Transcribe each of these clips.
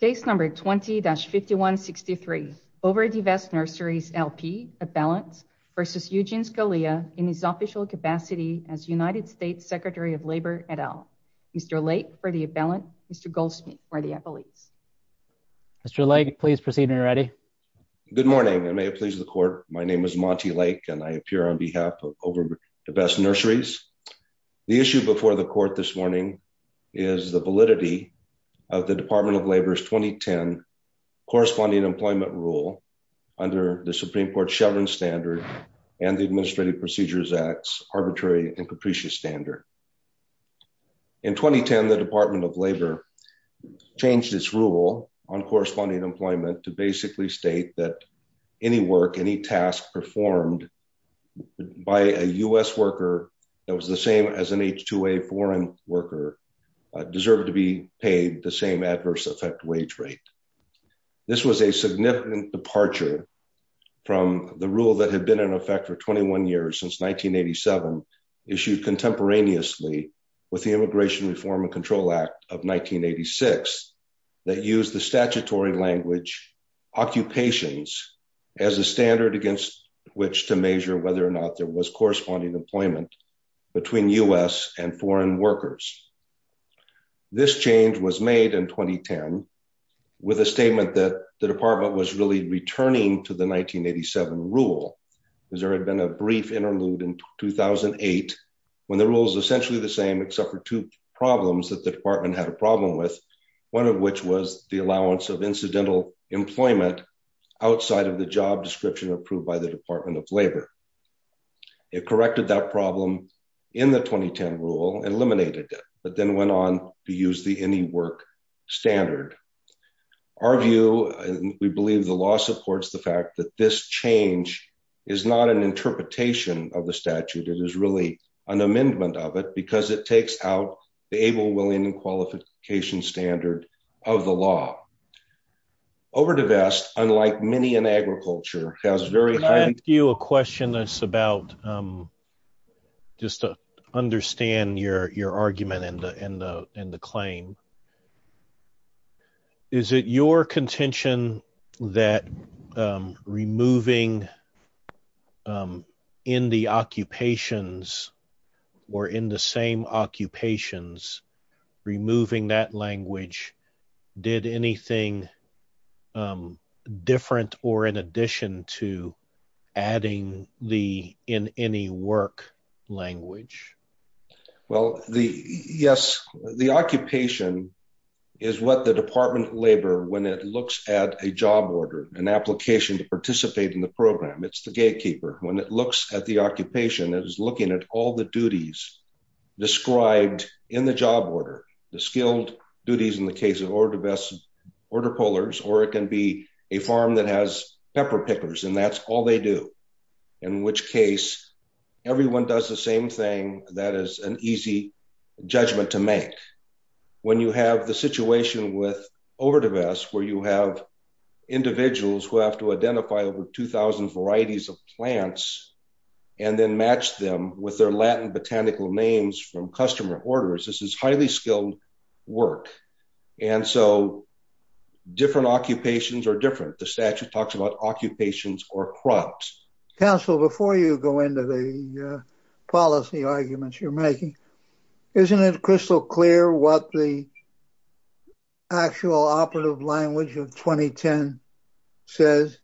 Case number 20-5163, Overdevest Nurseries, L.P., Abellant v. Eugene Scalia in his official capacity as United States Secretary of Labor et al. Mr. Lake for the Abellant, Mr. Goldsmith for the Abellese. Mr. Lake, please proceed when you're ready. Good morning, and may it please the court. My name is Monty Lake, and I appear on behalf of Overdevest Nurseries. The issue before the court this morning is the validity of the Department of Labor's 2010 corresponding employment rule under the Supreme Court's Chevron standard and the Administrative Procedures Act's arbitrary and capricious standard. In 2010, the Department of Labor changed its rule on corresponding employment to basically state that any work, any task performed by a U.S. worker that was the same as an H-2A foreign worker deserved to be paid the same adverse effect wage rate. This was a significant departure from the rule that had been in effect for 21 years, since 1987, issued contemporaneously with the Immigration Reform and Control Act of 1986 that used the statutory language occupations as a standard against which to measure whether or not there was corresponding employment between U.S. and foreign workers. This change was made in 2010 with a statement that the department was really returning to the 1987 rule, because there had been a brief interlude in 2008 when the rule was essentially the same, except for two problems that the department had a problem with, one of which was the allowance of incidental employment outside of the job description approved by the Department of Labor. It corrected that problem in the 2010 rule, eliminated it, but then went on to use the any work standard. Our view, we believe the law supports the fact that this change is not an interpretation of the statute, it is really an amendment of it, because it takes out the able, willing and qualification standard of the law. Overdivest, unlike many in agriculture, has very high- a question that's about, just to understand your argument and the claim, is it your contention that removing in the occupations or in the same occupations, removing that language, did anything different or in addition to adding the in any work language? Well, yes, the occupation is what the Department of Labor, when it looks at a job order, an application to participate in the program, it's the gatekeeper. When it looks at the occupation, it is looking at all the duties described in the job order, the skilled duties in the case of overdivest, order pullers, or it can be a farm that has pepper pickers, and that's all they do. In which case, everyone does the same thing, that is an easy judgment to make. When you have the situation with overdivest, where you have individuals who have to identify over 2000 varieties of plants and then match them with their Latin botanical names from customer orders, this is highly skilled work. And so different occupations are different. The statute talks about occupations or crops. Counsel, before you go into the policy arguments you're making, isn't it crystal clear what the actual operative language of 2010 says,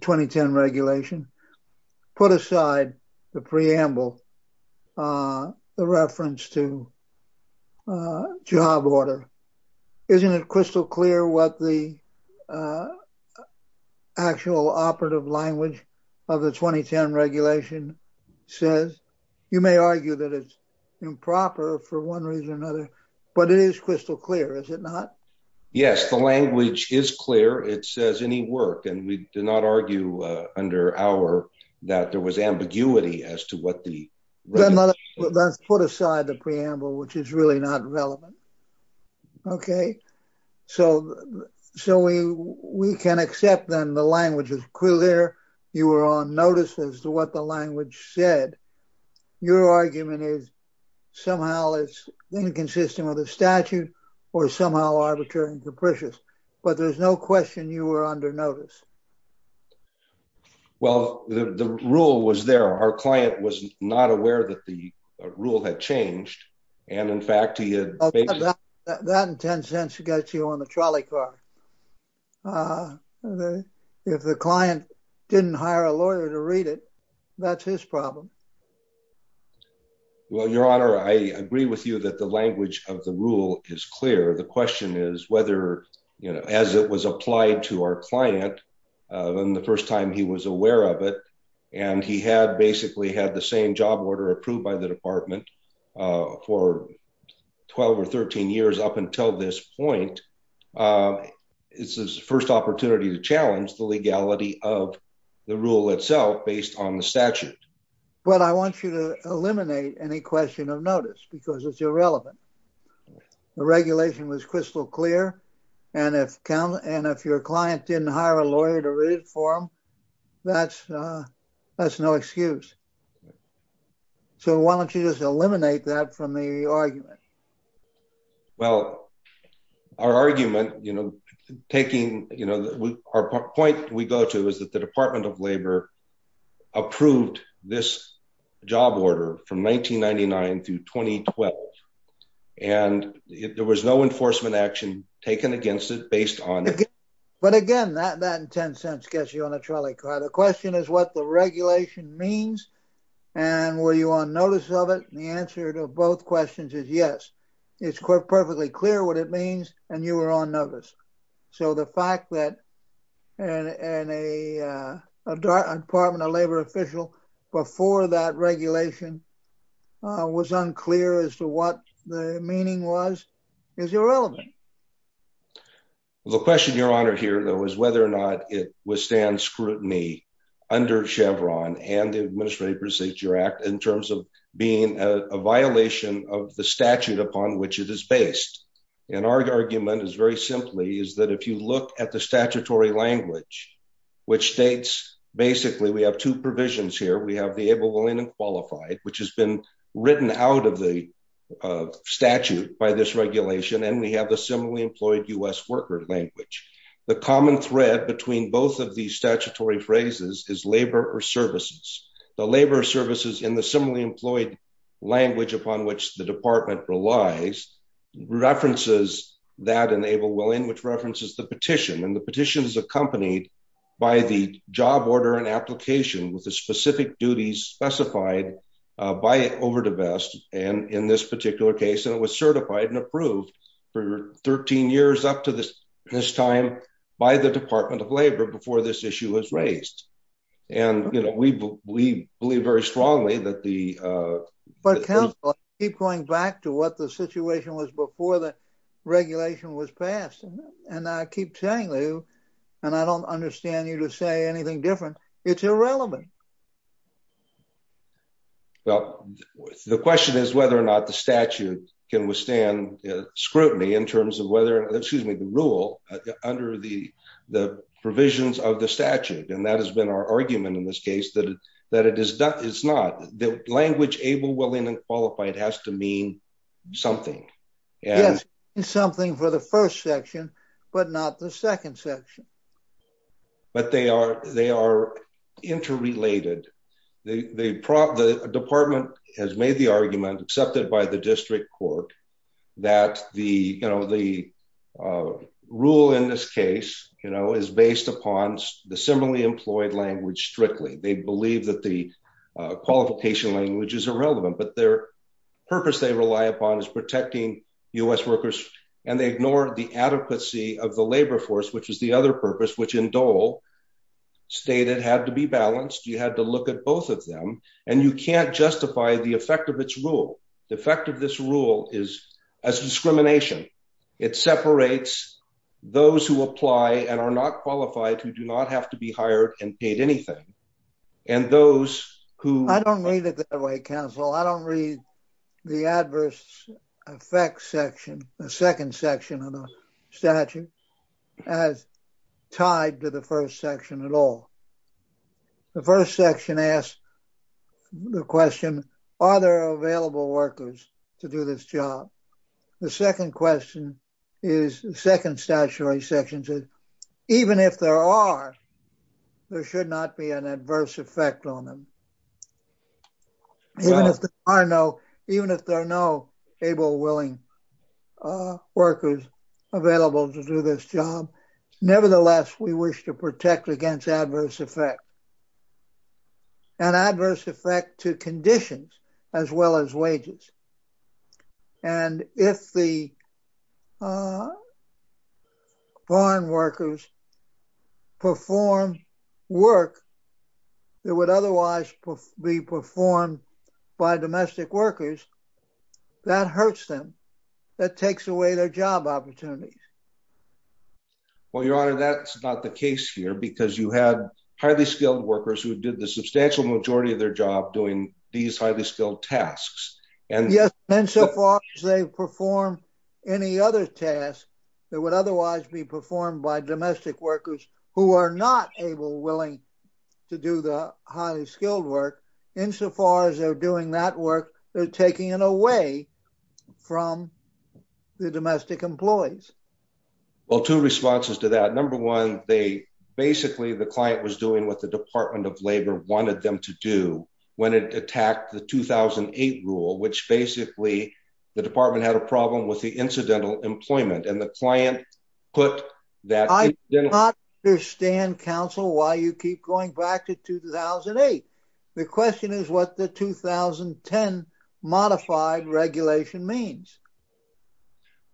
2010 regulation, put aside the preamble, the reference to job order. Isn't it crystal clear what the actual operative language of the 2010 regulation says? You may argue that it's improper for one reason or another, but it is crystal clear, is it not? Yes, the language is clear. It says any work, and we do not argue under our, that there was ambiguity as to what the... Let's put aside the preamble, which is really not relevant. Okay, so we can accept then the language is clear. You were on notice as to what the language said. Your argument is somehow it's inconsistent with the statute or somehow arbitrary and capricious, but there's no question you were under notice. Well, the rule was there. Our client was not aware that the rule had changed. And in fact, he had... That in 10 cents gets you on the trolley car. If the client didn't hire a lawyer to read it, that's his problem. Well, your honor, I agree with you that the language of the rule is clear. The question is whether, as it was applied to our client, when the first time he was aware of it, and he had basically had the same job order approved by the department for 12 or 13 years up until this point, it's his first opportunity to challenge the legality of the rule itself based on the statute. Well, I want you to eliminate any question of notice because it's irrelevant. The regulation was crystal clear. And if your client didn't hire a lawyer to read it for him, that's no excuse. So why don't you just eliminate that from the argument? Well, our argument, taking our point we go to is that the Department of Labor approved this job order from 1999 to 2012. And there was no enforcement action taken against it based on it. But again, that in 10 cents gets you on a trolley car. The question is what the regulation means. And were you on notice of it? And the answer to both questions is yes. It's perfectly clear what it means. And you were on notice. So the fact that a Department of Labor official before that regulation was unclear as to what the meaning was, is irrelevant. is whether or not it withstands scrutiny under Chevron and the Administrative Procedure Act in terms of being a violation of the statute upon which it is based. And our argument is very simply is that if you look at the statutory language, which states basically we have two provisions here. We have the able, willing and qualified, which has been written out of the statute by this regulation. And we have the similarly employed US worker language. The common thread between both of these statutory phrases is labor or services. The labor services in the similarly employed language upon which the department relies, references that enable willing, which references the petition. And the petition is accompanied by the job order and application with the specific duties specified by over the best. And in this particular case, and it was certified and approved for 13 years up to this time by the Department of Labor before this issue was raised. And we believe very strongly that the- But counsel, I keep going back to what the situation was before the regulation was passed. And I keep telling you, and I don't understand you to say anything different. It's irrelevant. Well, the question is whether or not the statute can withstand scrutiny in terms of whether, excuse me, the rule under the provisions of the statute. And that has been our argument in this case that it's not. The language able, willing and qualified has to mean something. Yes, it's something for the first section, but not the second section. But they are interrelated. The department has made the argument accepted by the district court that the rule in this case is based upon the similarly employed language strictly. They believe that the qualification language is irrelevant, but their purpose they rely upon is protecting US workers. And they ignore the adequacy of the labor force, which was the other purpose, which in Dole stated had to be balanced. You had to look at both of them and you can't justify the effect of its rule. The effect of this rule is as discrimination. It separates those who apply and are not qualified who do not have to be hired and paid anything. And those who- I don't read it that way, counsel. I don't read the adverse effects section, the second section of the statute as tied to the first section at all. The first section asks the question, are there available workers to do this job? The second question is, second statutory section says, even if there are, there should not be an adverse effect on them. Even if there are no able, willing workers available to do this job, nevertheless, we wish to protect against adverse effect. An adverse effect to conditions as well as wages. And if the foreign workers perform work that would otherwise be performed by domestic workers, that hurts them. That takes away their job opportunities. Well, your honor, that's not the case here because you had highly skilled workers who did the substantial majority of their job doing these highly skilled tasks. Yes, and so far as they perform any other task that would otherwise be performed by domestic workers who are not able, willing to do the highly skilled work, insofar as they're doing that work, they're taking it away from the domestic employees. Well, two responses to that. Number one, they basically, the client was doing what the Department of Labor wanted them to do when it attacked the 2008 rule, which basically the department had a problem with the incidental employment. And the client put that- I do not understand counsel why you keep going back to 2008. The question is what the 2010 modified regulation means.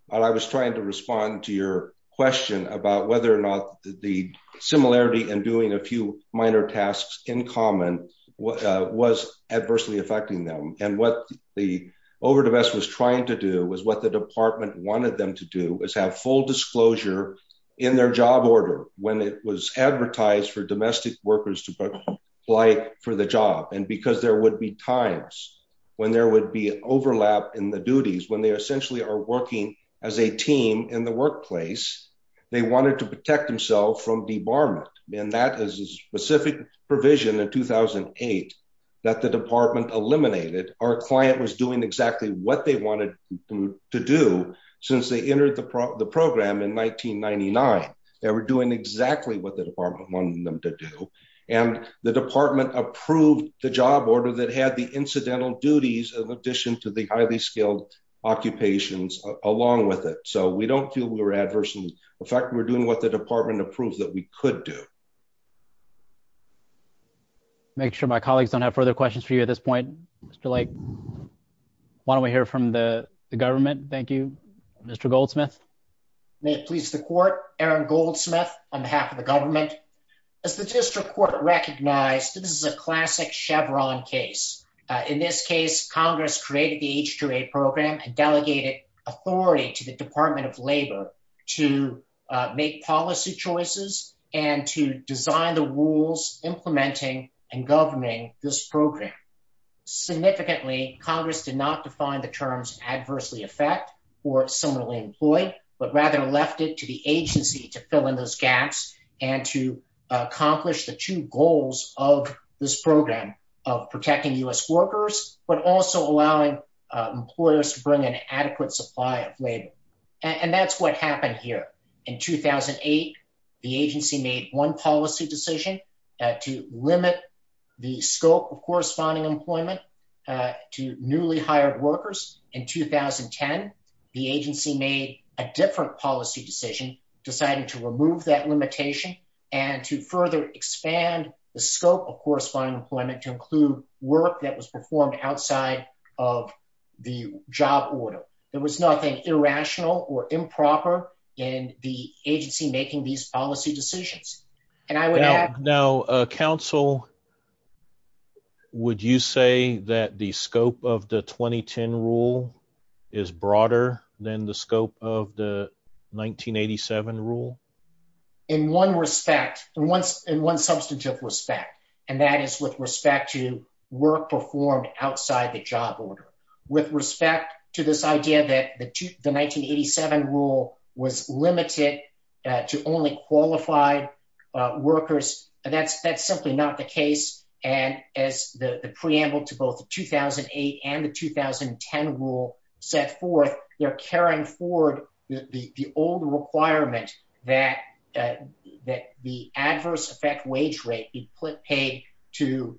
Well, I was trying to respond to your question about whether or not the similarity in doing a few minor tasks in common was adversely affecting them. And what the overdivest was trying to do was what the department wanted them to do is have full disclosure in their job order when it was advertised for domestic workers to apply for the job. And because there would be times when there would be overlap in the duties, when they essentially are working as a team in the workplace, they wanted to protect themselves from debarment. And that is a specific provision in 2008 that the department eliminated. Our client was doing exactly what they wanted to do since they entered the program in 1999. They were doing exactly what the department wanted them to do. And the department approved the job order that had the incidental duties in addition to the highly skilled occupations along with it. So we don't feel we were adversely affected. We're doing what the department approved that we could do. I'll make sure my colleagues don't have further questions for you at this point. Mr. Lake, why don't we hear from the government? Thank you, Mr. Goldsmith. May it please the court, Aaron Goldsmith on behalf of the government. As the district court recognized, this is a classic Chevron case. In this case, Congress created the H-2A program and delegated authority to the Department of Labor to make policy choices and to design the rules implementing and governing this program. Significantly, Congress did not define the terms adversely affect or similarly employed, but rather left it to the agency to fill in those gaps and to accomplish the two goals of this program of protecting U.S. workers, but also allowing employers to bring an adequate supply of labor. And that's what happened here. In 2008, the agency made one policy decision to limit the scope of corresponding employment to newly hired workers. In 2010, the agency made a different policy decision deciding to remove that limitation and to further expand the scope of corresponding employment to include work that was performed outside of the job order. There was nothing irrational or improper in the agency making these policy decisions. And I would add- Now, counsel, would you say that the scope of the 2010 rule is broader than the scope of the 1987 rule? In one respect, in one substantive respect, and that is with respect to work performed outside the job order. With respect to this idea that the 1987 rule was limited to only qualified workers, that's simply not the case. And as the preamble to both the 2008 and the 2010 rule set forth, they're carrying forward the old requirement that the adverse effect wage rate be paid to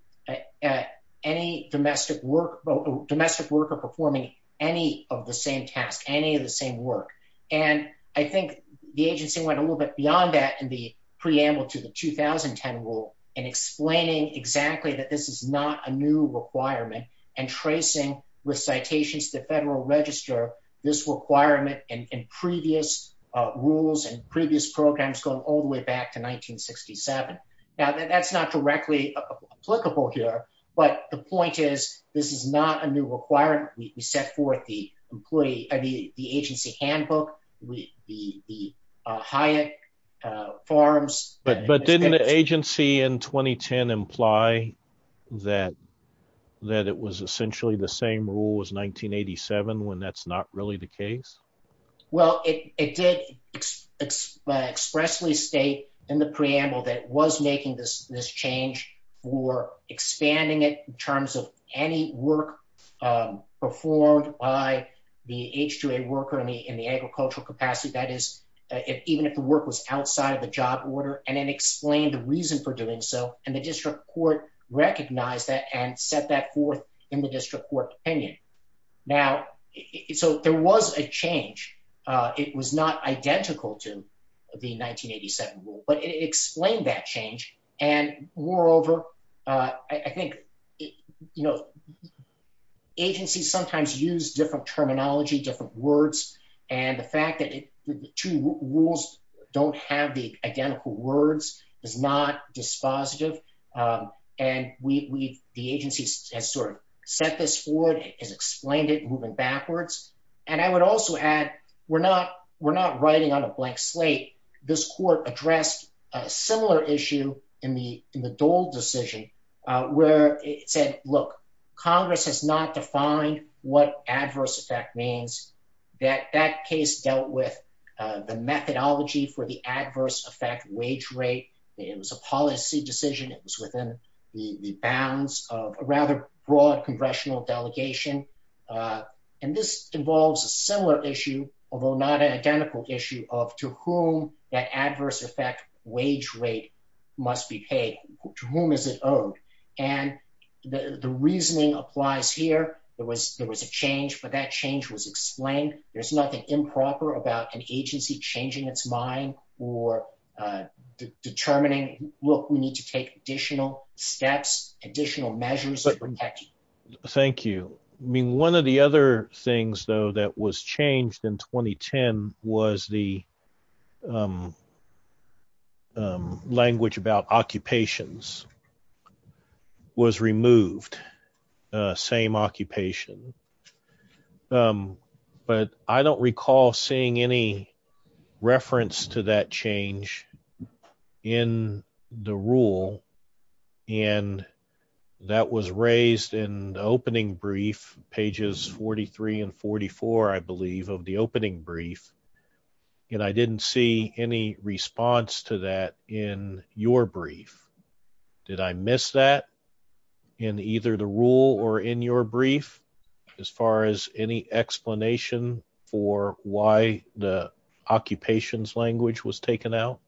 any domestic worker performing any of the same task, any of the same work. And I think the agency went a little bit beyond that in the preamble to the 2010 rule in explaining exactly that this is not a new requirement and tracing with citations to the federal register this requirement in previous rules and previous programs going all the way back to 1967. Now, that's not directly applicable here, but the point is, this is not a new requirement. We set forth the agency handbook, the Hyatt Farms- But didn't the agency in 2010 imply that it was essentially the same rule as 1987 when that's not really the case? Well, it did expressly state in the preamble that it was making this change for expanding it in terms of any work performed by the H-2A worker in the agricultural capacity. That is, even if the work was outside of the job order and it explained the reason for doing so and the district court recognized that and set that forth in the district court opinion. Now, so there was a change. It was not identical to the 1987 rule, but it explained that change. And moreover, I think agencies sometimes use different terminology, different words, and the fact that the two rules don't have the identical words is not dispositive. And the agency has sort of set this forward has explained it moving backwards. And I would also add, we're not writing on a blank slate. This court addressed a similar issue in the Dole decision where it said, look, Congress has not defined what adverse effect means. That case dealt with the methodology for the adverse effect wage rate. It was a policy decision. It was within the bounds of a rather broad congressional delegation. And this involves a similar issue, although not an identical issue of to whom that adverse effect wage rate must be paid. To whom is it owed? And the reasoning applies here. There was a change, but that change was explained. There's nothing improper about an agency changing its mind or determining, look, we need to take additional steps, additional measures that protect you. Thank you. I mean, one of the other things though that was changed in 2010 was the language about occupations was removed, same occupation. But I don't recall seeing any reference to that change in the rule. And that was raised in the opening brief, pages 43 and 44, I believe of the opening brief. And I didn't see any response to that in your brief. Did I miss that in either the rule or in your brief as far as any explanation for why the occupations language was taken out?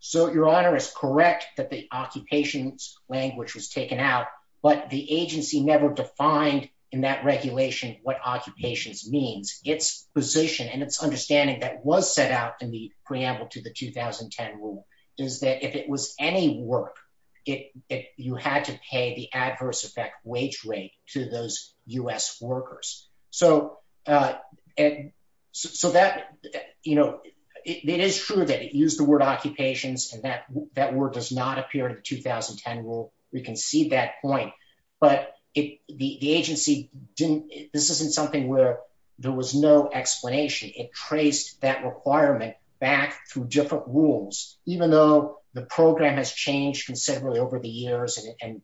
So your honor is correct that the occupations language was taken out, but the agency never defined in that regulation what occupations means. Its position and its understanding that was set out in the preamble to the 2010 rule is that if it was any work, you had to pay the adverse effect wage rate to those US workers. So that, it is true that it used the word occupations and that word does not appear in the 2010 rule. We can see that point, but the agency didn't, this isn't something where there was no explanation. It traced that requirement back through different rules, even though the program has changed considerably over the years and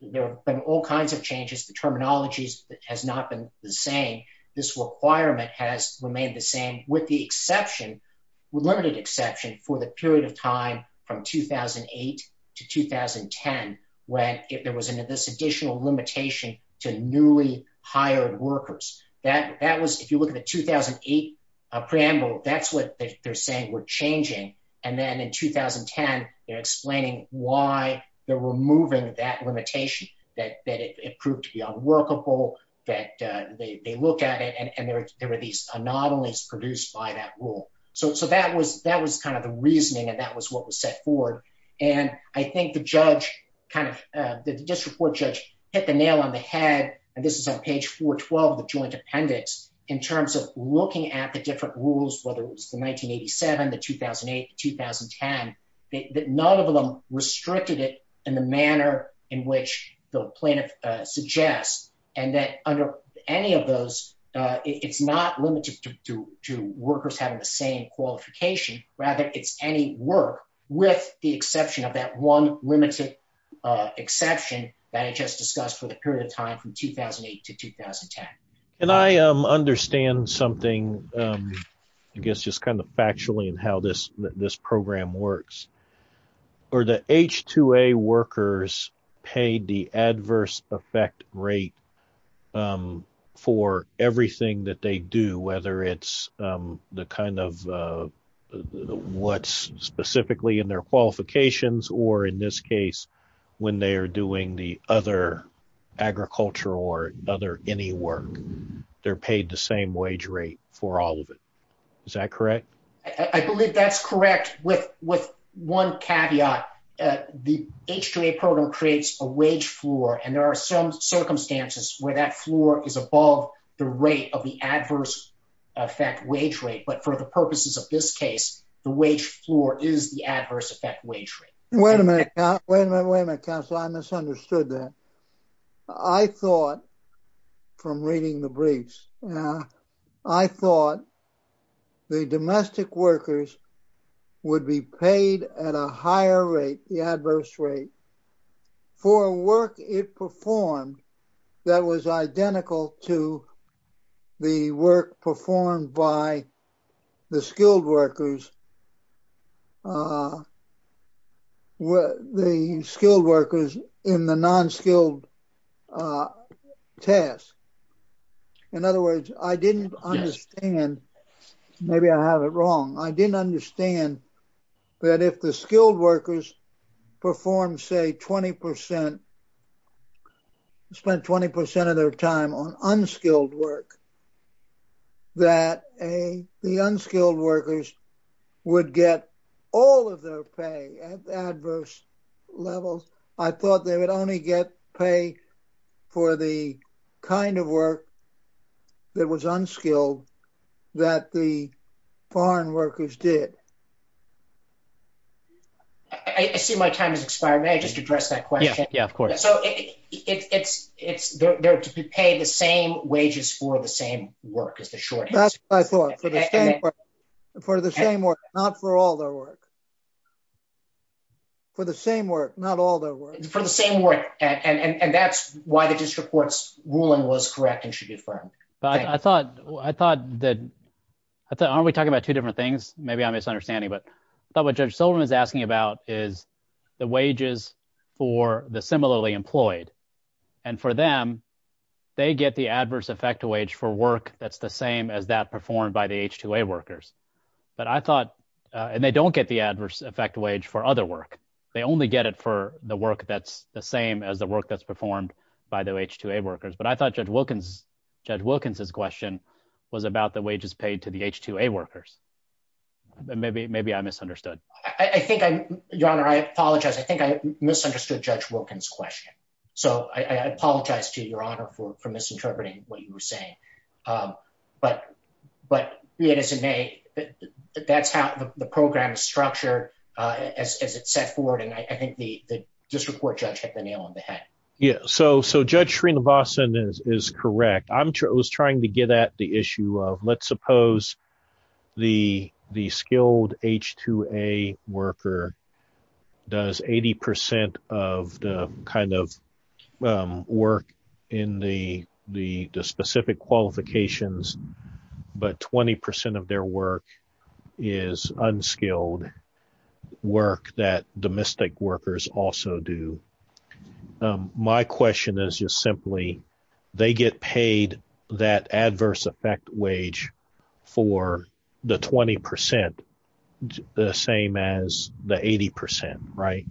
there've been all kinds of changes. The terminologies has not been the same. This requirement has remained the same with the exception, with limited exception for the period of time from 2008 to 2010, when there was this additional limitation to newly hired workers. That was, if you look at the 2008 preamble, that's what they're saying were changing. And then in 2010, they're explaining why they're removing that limitation that it proved to be unworkable, that they look at it and there were these anomalies produced by that rule. So that was kind of the reasoning and that was what was set forward. And I think the judge kind of, the district court judge hit the nail on the head and this is on page 412 of the joint appendix in terms of looking at the different rules, none of them restricted it in the manner in which the plaintiff suggests. And that under any of those, it's not limited to workers having the same qualification, rather it's any work with the exception of that one limited exception that I just discussed for the period of time from 2008 to 2010. And I understand something, I guess, just kind of factually in how this program works. Are the H-2A workers paid the adverse effect rate for everything that they do, whether it's the kind of what's specifically in their qualifications or in this case, when they are doing the other agriculture or other any work, they're paid the same wage rate for all of it. Is that correct? I believe that's correct with one caveat, the H-2A program creates a wage floor and there are some circumstances where that floor is above the rate of the adverse effect wage rate. But for the purposes of this case, the wage floor is the adverse effect wage rate. Wait a minute, wait a minute, counsel, I misunderstood that. I thought from reading the briefs, I thought the domestic workers would be paid at a higher rate, the adverse rate for work it performed that was identical to the work performed by the skilled workers, the skilled workers in the non-skilled task. In other words, I didn't understand, maybe I have it wrong. I didn't understand that if the skilled workers performed, say 20%, spent 20% of their time on unskilled work, that the unskilled workers would get all of their pay at adverse levels. I thought they would only get pay for the kind of work that was unskilled that the foreign workers did. I see my time has expired. May I just address that question? Yeah, yeah, of course. So they're to be paid the same wages for the same work as the shorthand. That's what I thought, for the same work, not for all their work. For the same work, not all their work. For the same work. And that's why the district court's ruling was correct and should be affirmed. But I thought, aren't we talking about two different things? Maybe I'm misunderstanding, but I thought what Judge Silverman is asking about is the wages for the similarly employed. And for them, they get the adverse effect wage for work that's the same as that performed by the H-2A workers. But I thought, and they don't get the adverse effect wage for other work. They only get it for the work that's the same as the work that's performed by the H-2A workers. But I thought Judge Wilkins' question was about the wages paid to the H-2A workers. Maybe I misunderstood. I think, Your Honor, I apologize. I think I misunderstood Judge Wilkins' question. So I apologize to you, Your Honor, for misinterpreting what you were saying. But be it as it may, that's how the program is structured as it's set forward. And I think the district court judge hit the nail on the head. Yeah, so Judge Srinivasan is correct. I was trying to get at the issue of, let's suppose the skilled H-2A worker does 80% of the kind of work in the specific qualifications, but 20% of their work is unskilled. Work that domestic workers also do. My question is just simply, they get paid that adverse effect wage for the 20% the same as the 80%, right?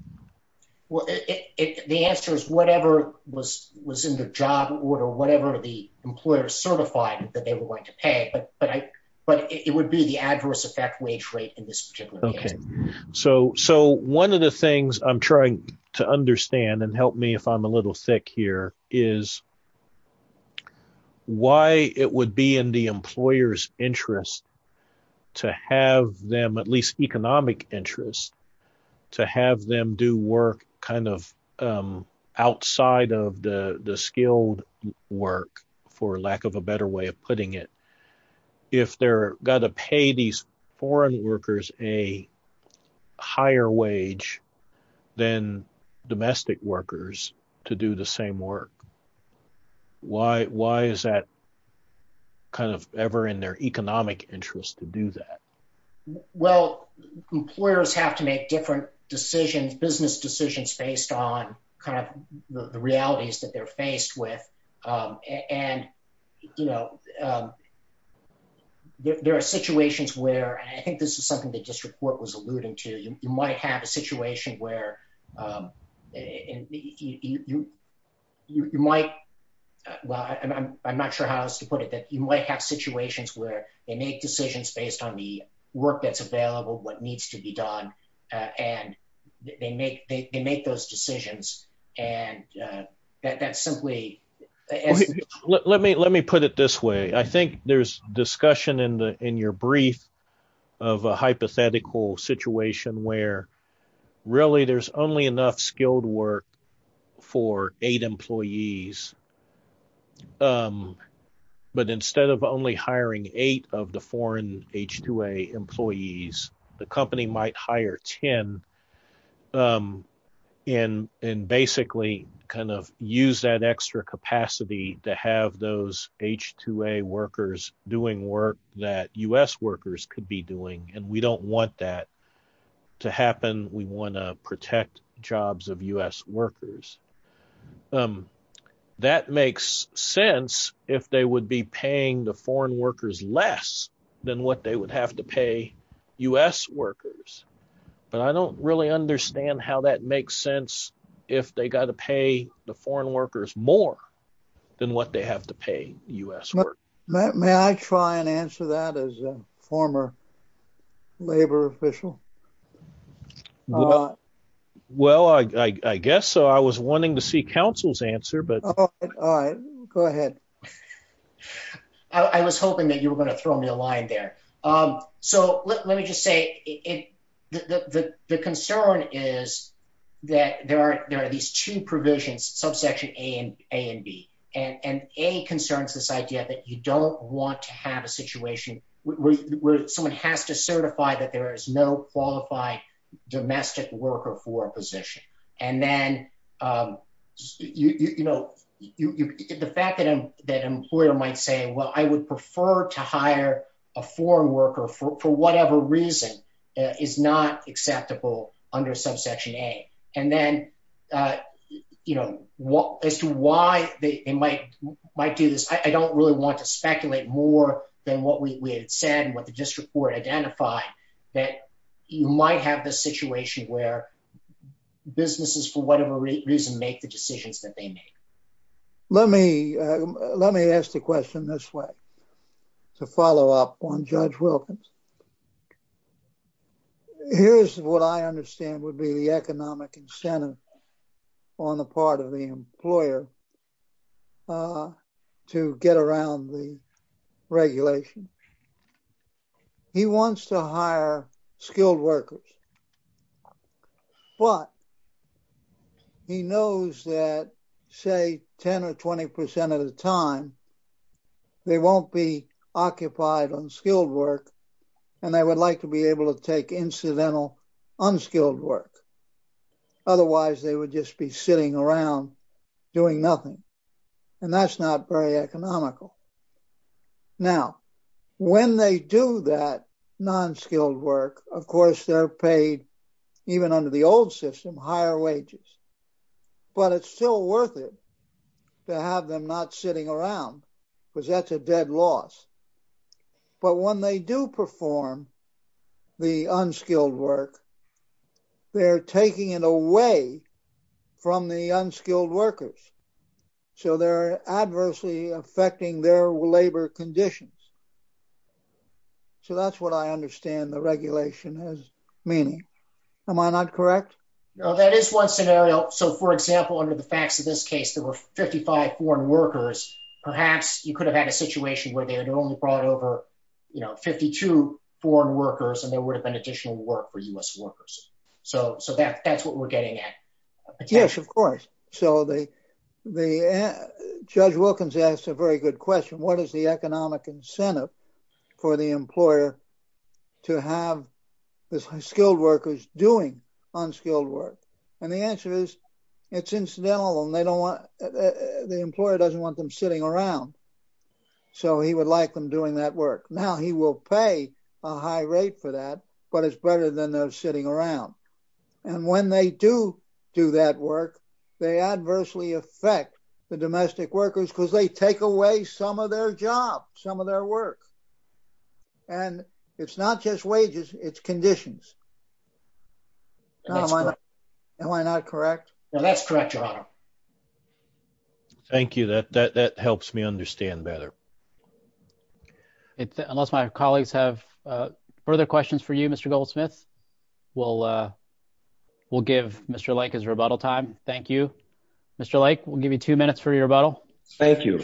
Well, the answer is whatever was in the job order, whatever the employer certified that they were going to pay. But it would be the adverse effect wage rate in this particular case. So one of the things I'm trying to understand and help me if I'm a little thick here is why it would be in the employer's interest to have them at least economic interest to have them do work kind of outside of the skilled work for lack of a better way of putting it. If they're got to pay these foreign workers a higher wage than domestic workers to do the same work, why is that kind of ever in their economic interest to do that? Well, employers have to make different decisions, business decisions based on kind of the realities that they're faced with. And there are situations where, and I think this is something that just report was alluding to, you might have a situation where you might, well, I'm not sure how else to put it, that you might have situations where they make decisions based on the work that's available, what needs to be done, and they make those decisions. And that's simply- Let me put it this way. I think there's discussion in your brief of a hypothetical situation where really there's only enough skilled work for eight employees. But instead of only hiring eight of the foreign H-2A employees, the company might hire 10 and basically kind of use that extra capacity to have those H-2A workers doing work that U.S. workers could be doing. And we don't want that to happen. We want to protect jobs of U.S. workers. That makes sense if they would be paying the foreign workers less than what they would have to pay U.S. workers. But I don't really understand how that makes sense if they got to pay the foreign workers more than what they have to pay U.S. workers. May I try and answer that as a former labor official? Well, I guess so. I was wanting to see counsel's answer, but- All right, go ahead. I was hoping that you were going to throw me a line there. So let me just say the concern is that there are these two provisions, subsection A and B. And A concerns this idea that you don't want to have a situation where someone has to certify that there is no qualified domestic worker for a position. And then the fact that an employer might say, well, I would prefer to hire a foreign worker for whatever reason is not acceptable under subsection A. And then as to why they might do this, I don't really want to speculate more than what we had said and what the district court identified, that you might have the situation where businesses for whatever reason make the decisions that they make. Let me ask the question this way to follow up on Judge Wilkins. Here's what I understand would be the economic incentive on the part of the employer to get around the regulation. He wants to hire skilled workers, but he knows that say 10 or 20% of the time, they won't be occupied on skilled work and they would like to be able to take incidental unskilled work. Otherwise they would just be sitting around doing nothing. And that's not very economical. Now, when they do that non-skilled work, of course, they're paid even under the old system, higher wages, but it's still worth it to have them not sitting around because that's a dead loss. But when they do perform the unskilled work, they're taking it away from the unskilled workers. So they're adversely affecting their labor conditions. So that's what I understand the regulation has meaning. Am I not correct? No, that is one scenario. So for example, under the facts of this case, there were 55 foreign workers. Perhaps you could have had a situation where they had only brought over 52 foreign workers and there would have been additional work for US workers. So that's what we're getting at. Yes, of course. So Judge Wilkins asked a very good question. What is the economic incentive for the employer to have the skilled workers doing unskilled work? And the answer is it's incidental and the employer doesn't want them sitting around. So he would like them doing that work. Now he will pay a high rate for that, but it's better than those sitting around. And when they do do that work, they adversely affect the domestic workers because they take away some of their job, some of their work. And it's not just wages, it's conditions. Am I not correct? No, that's correct, Your Honor. Thank you. That helps me understand better. Unless my colleagues have further questions for you, Mr. Goldsmith, we'll give Mr. Lake his rebuttal time. Thank you. Mr. Lake, we'll give you two minutes for your rebuttal. Thank you.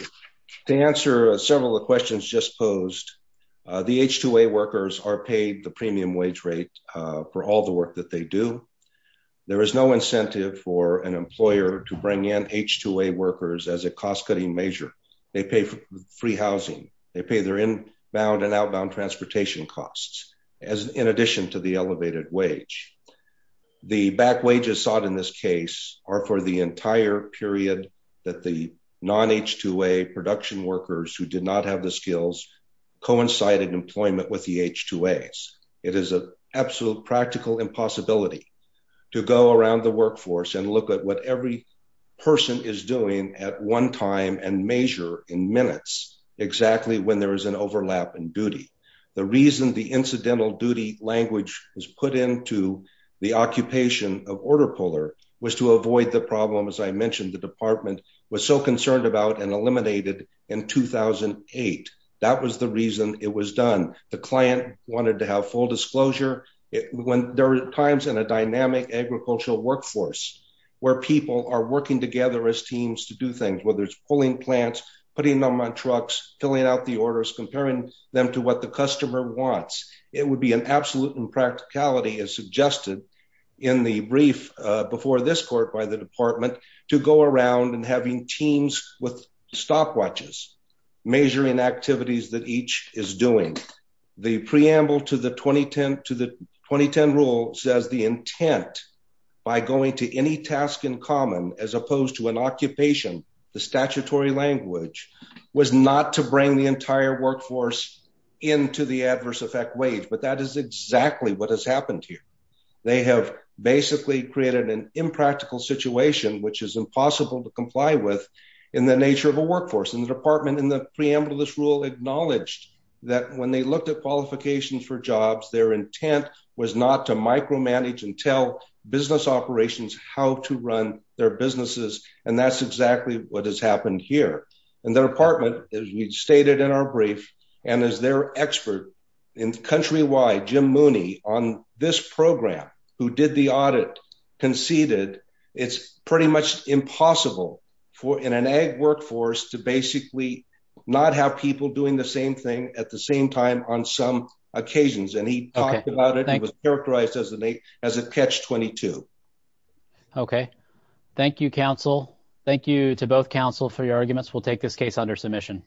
To answer several of the questions just posed, the H-2A workers are paid the premium wage rate for all the work that they do. There is no incentive for an employer to bring in H-2A workers as a cost-cutting measure. They pay for free housing, they pay their inbound and outbound transportation costs in addition to the elevated wage. The back wages sought in this case are for the entire period that the non-H-2A production workers who did not have the skills coincided employment with the H-2As. It is an absolute practical impossibility to go around the workforce and look at what every person is doing at one time and measure in minutes exactly when there is an overlap in duty. The reason the incidental duty language was put into the occupation of Order Puller was to avoid the problem, as I mentioned, the department was so concerned about and eliminated in 2008. That was the reason it was done. The client wanted to have full disclosure. There are times in a dynamic agricultural workforce where people are working together as teams to do things, whether it's pulling plants, putting them on trucks, filling out the orders, comparing them to what the customer wants. It would be an absolute impracticality as suggested in the brief before this court by the department to go around and having teams with stopwatches measuring activities that each is doing. The preamble to the 2010 rule says the intent by going to any task in common, as opposed to an occupation, the statutory language was not to bring the entire workforce into the adverse effect wage, but that is exactly what has happened here. They have basically created an impractical situation, which is impossible to comply with in the nature of a workforce. And the department in the preamble to this rule acknowledged that when they looked at qualifications for jobs, their intent was not to micromanage and tell business operations how to run their businesses. And that's exactly what has happened here. And the department, as we stated in our brief, and as their expert in countrywide, Jim Mooney on this program, who did the audit conceded, it's pretty much impossible for in an ag workforce to basically not have people doing the same thing at the same time on some occasions. And he talked about it. He was characterized as a catch 22. Okay. Thank you, counsel. Thank you to both counsel for your arguments. We'll take this case under submission.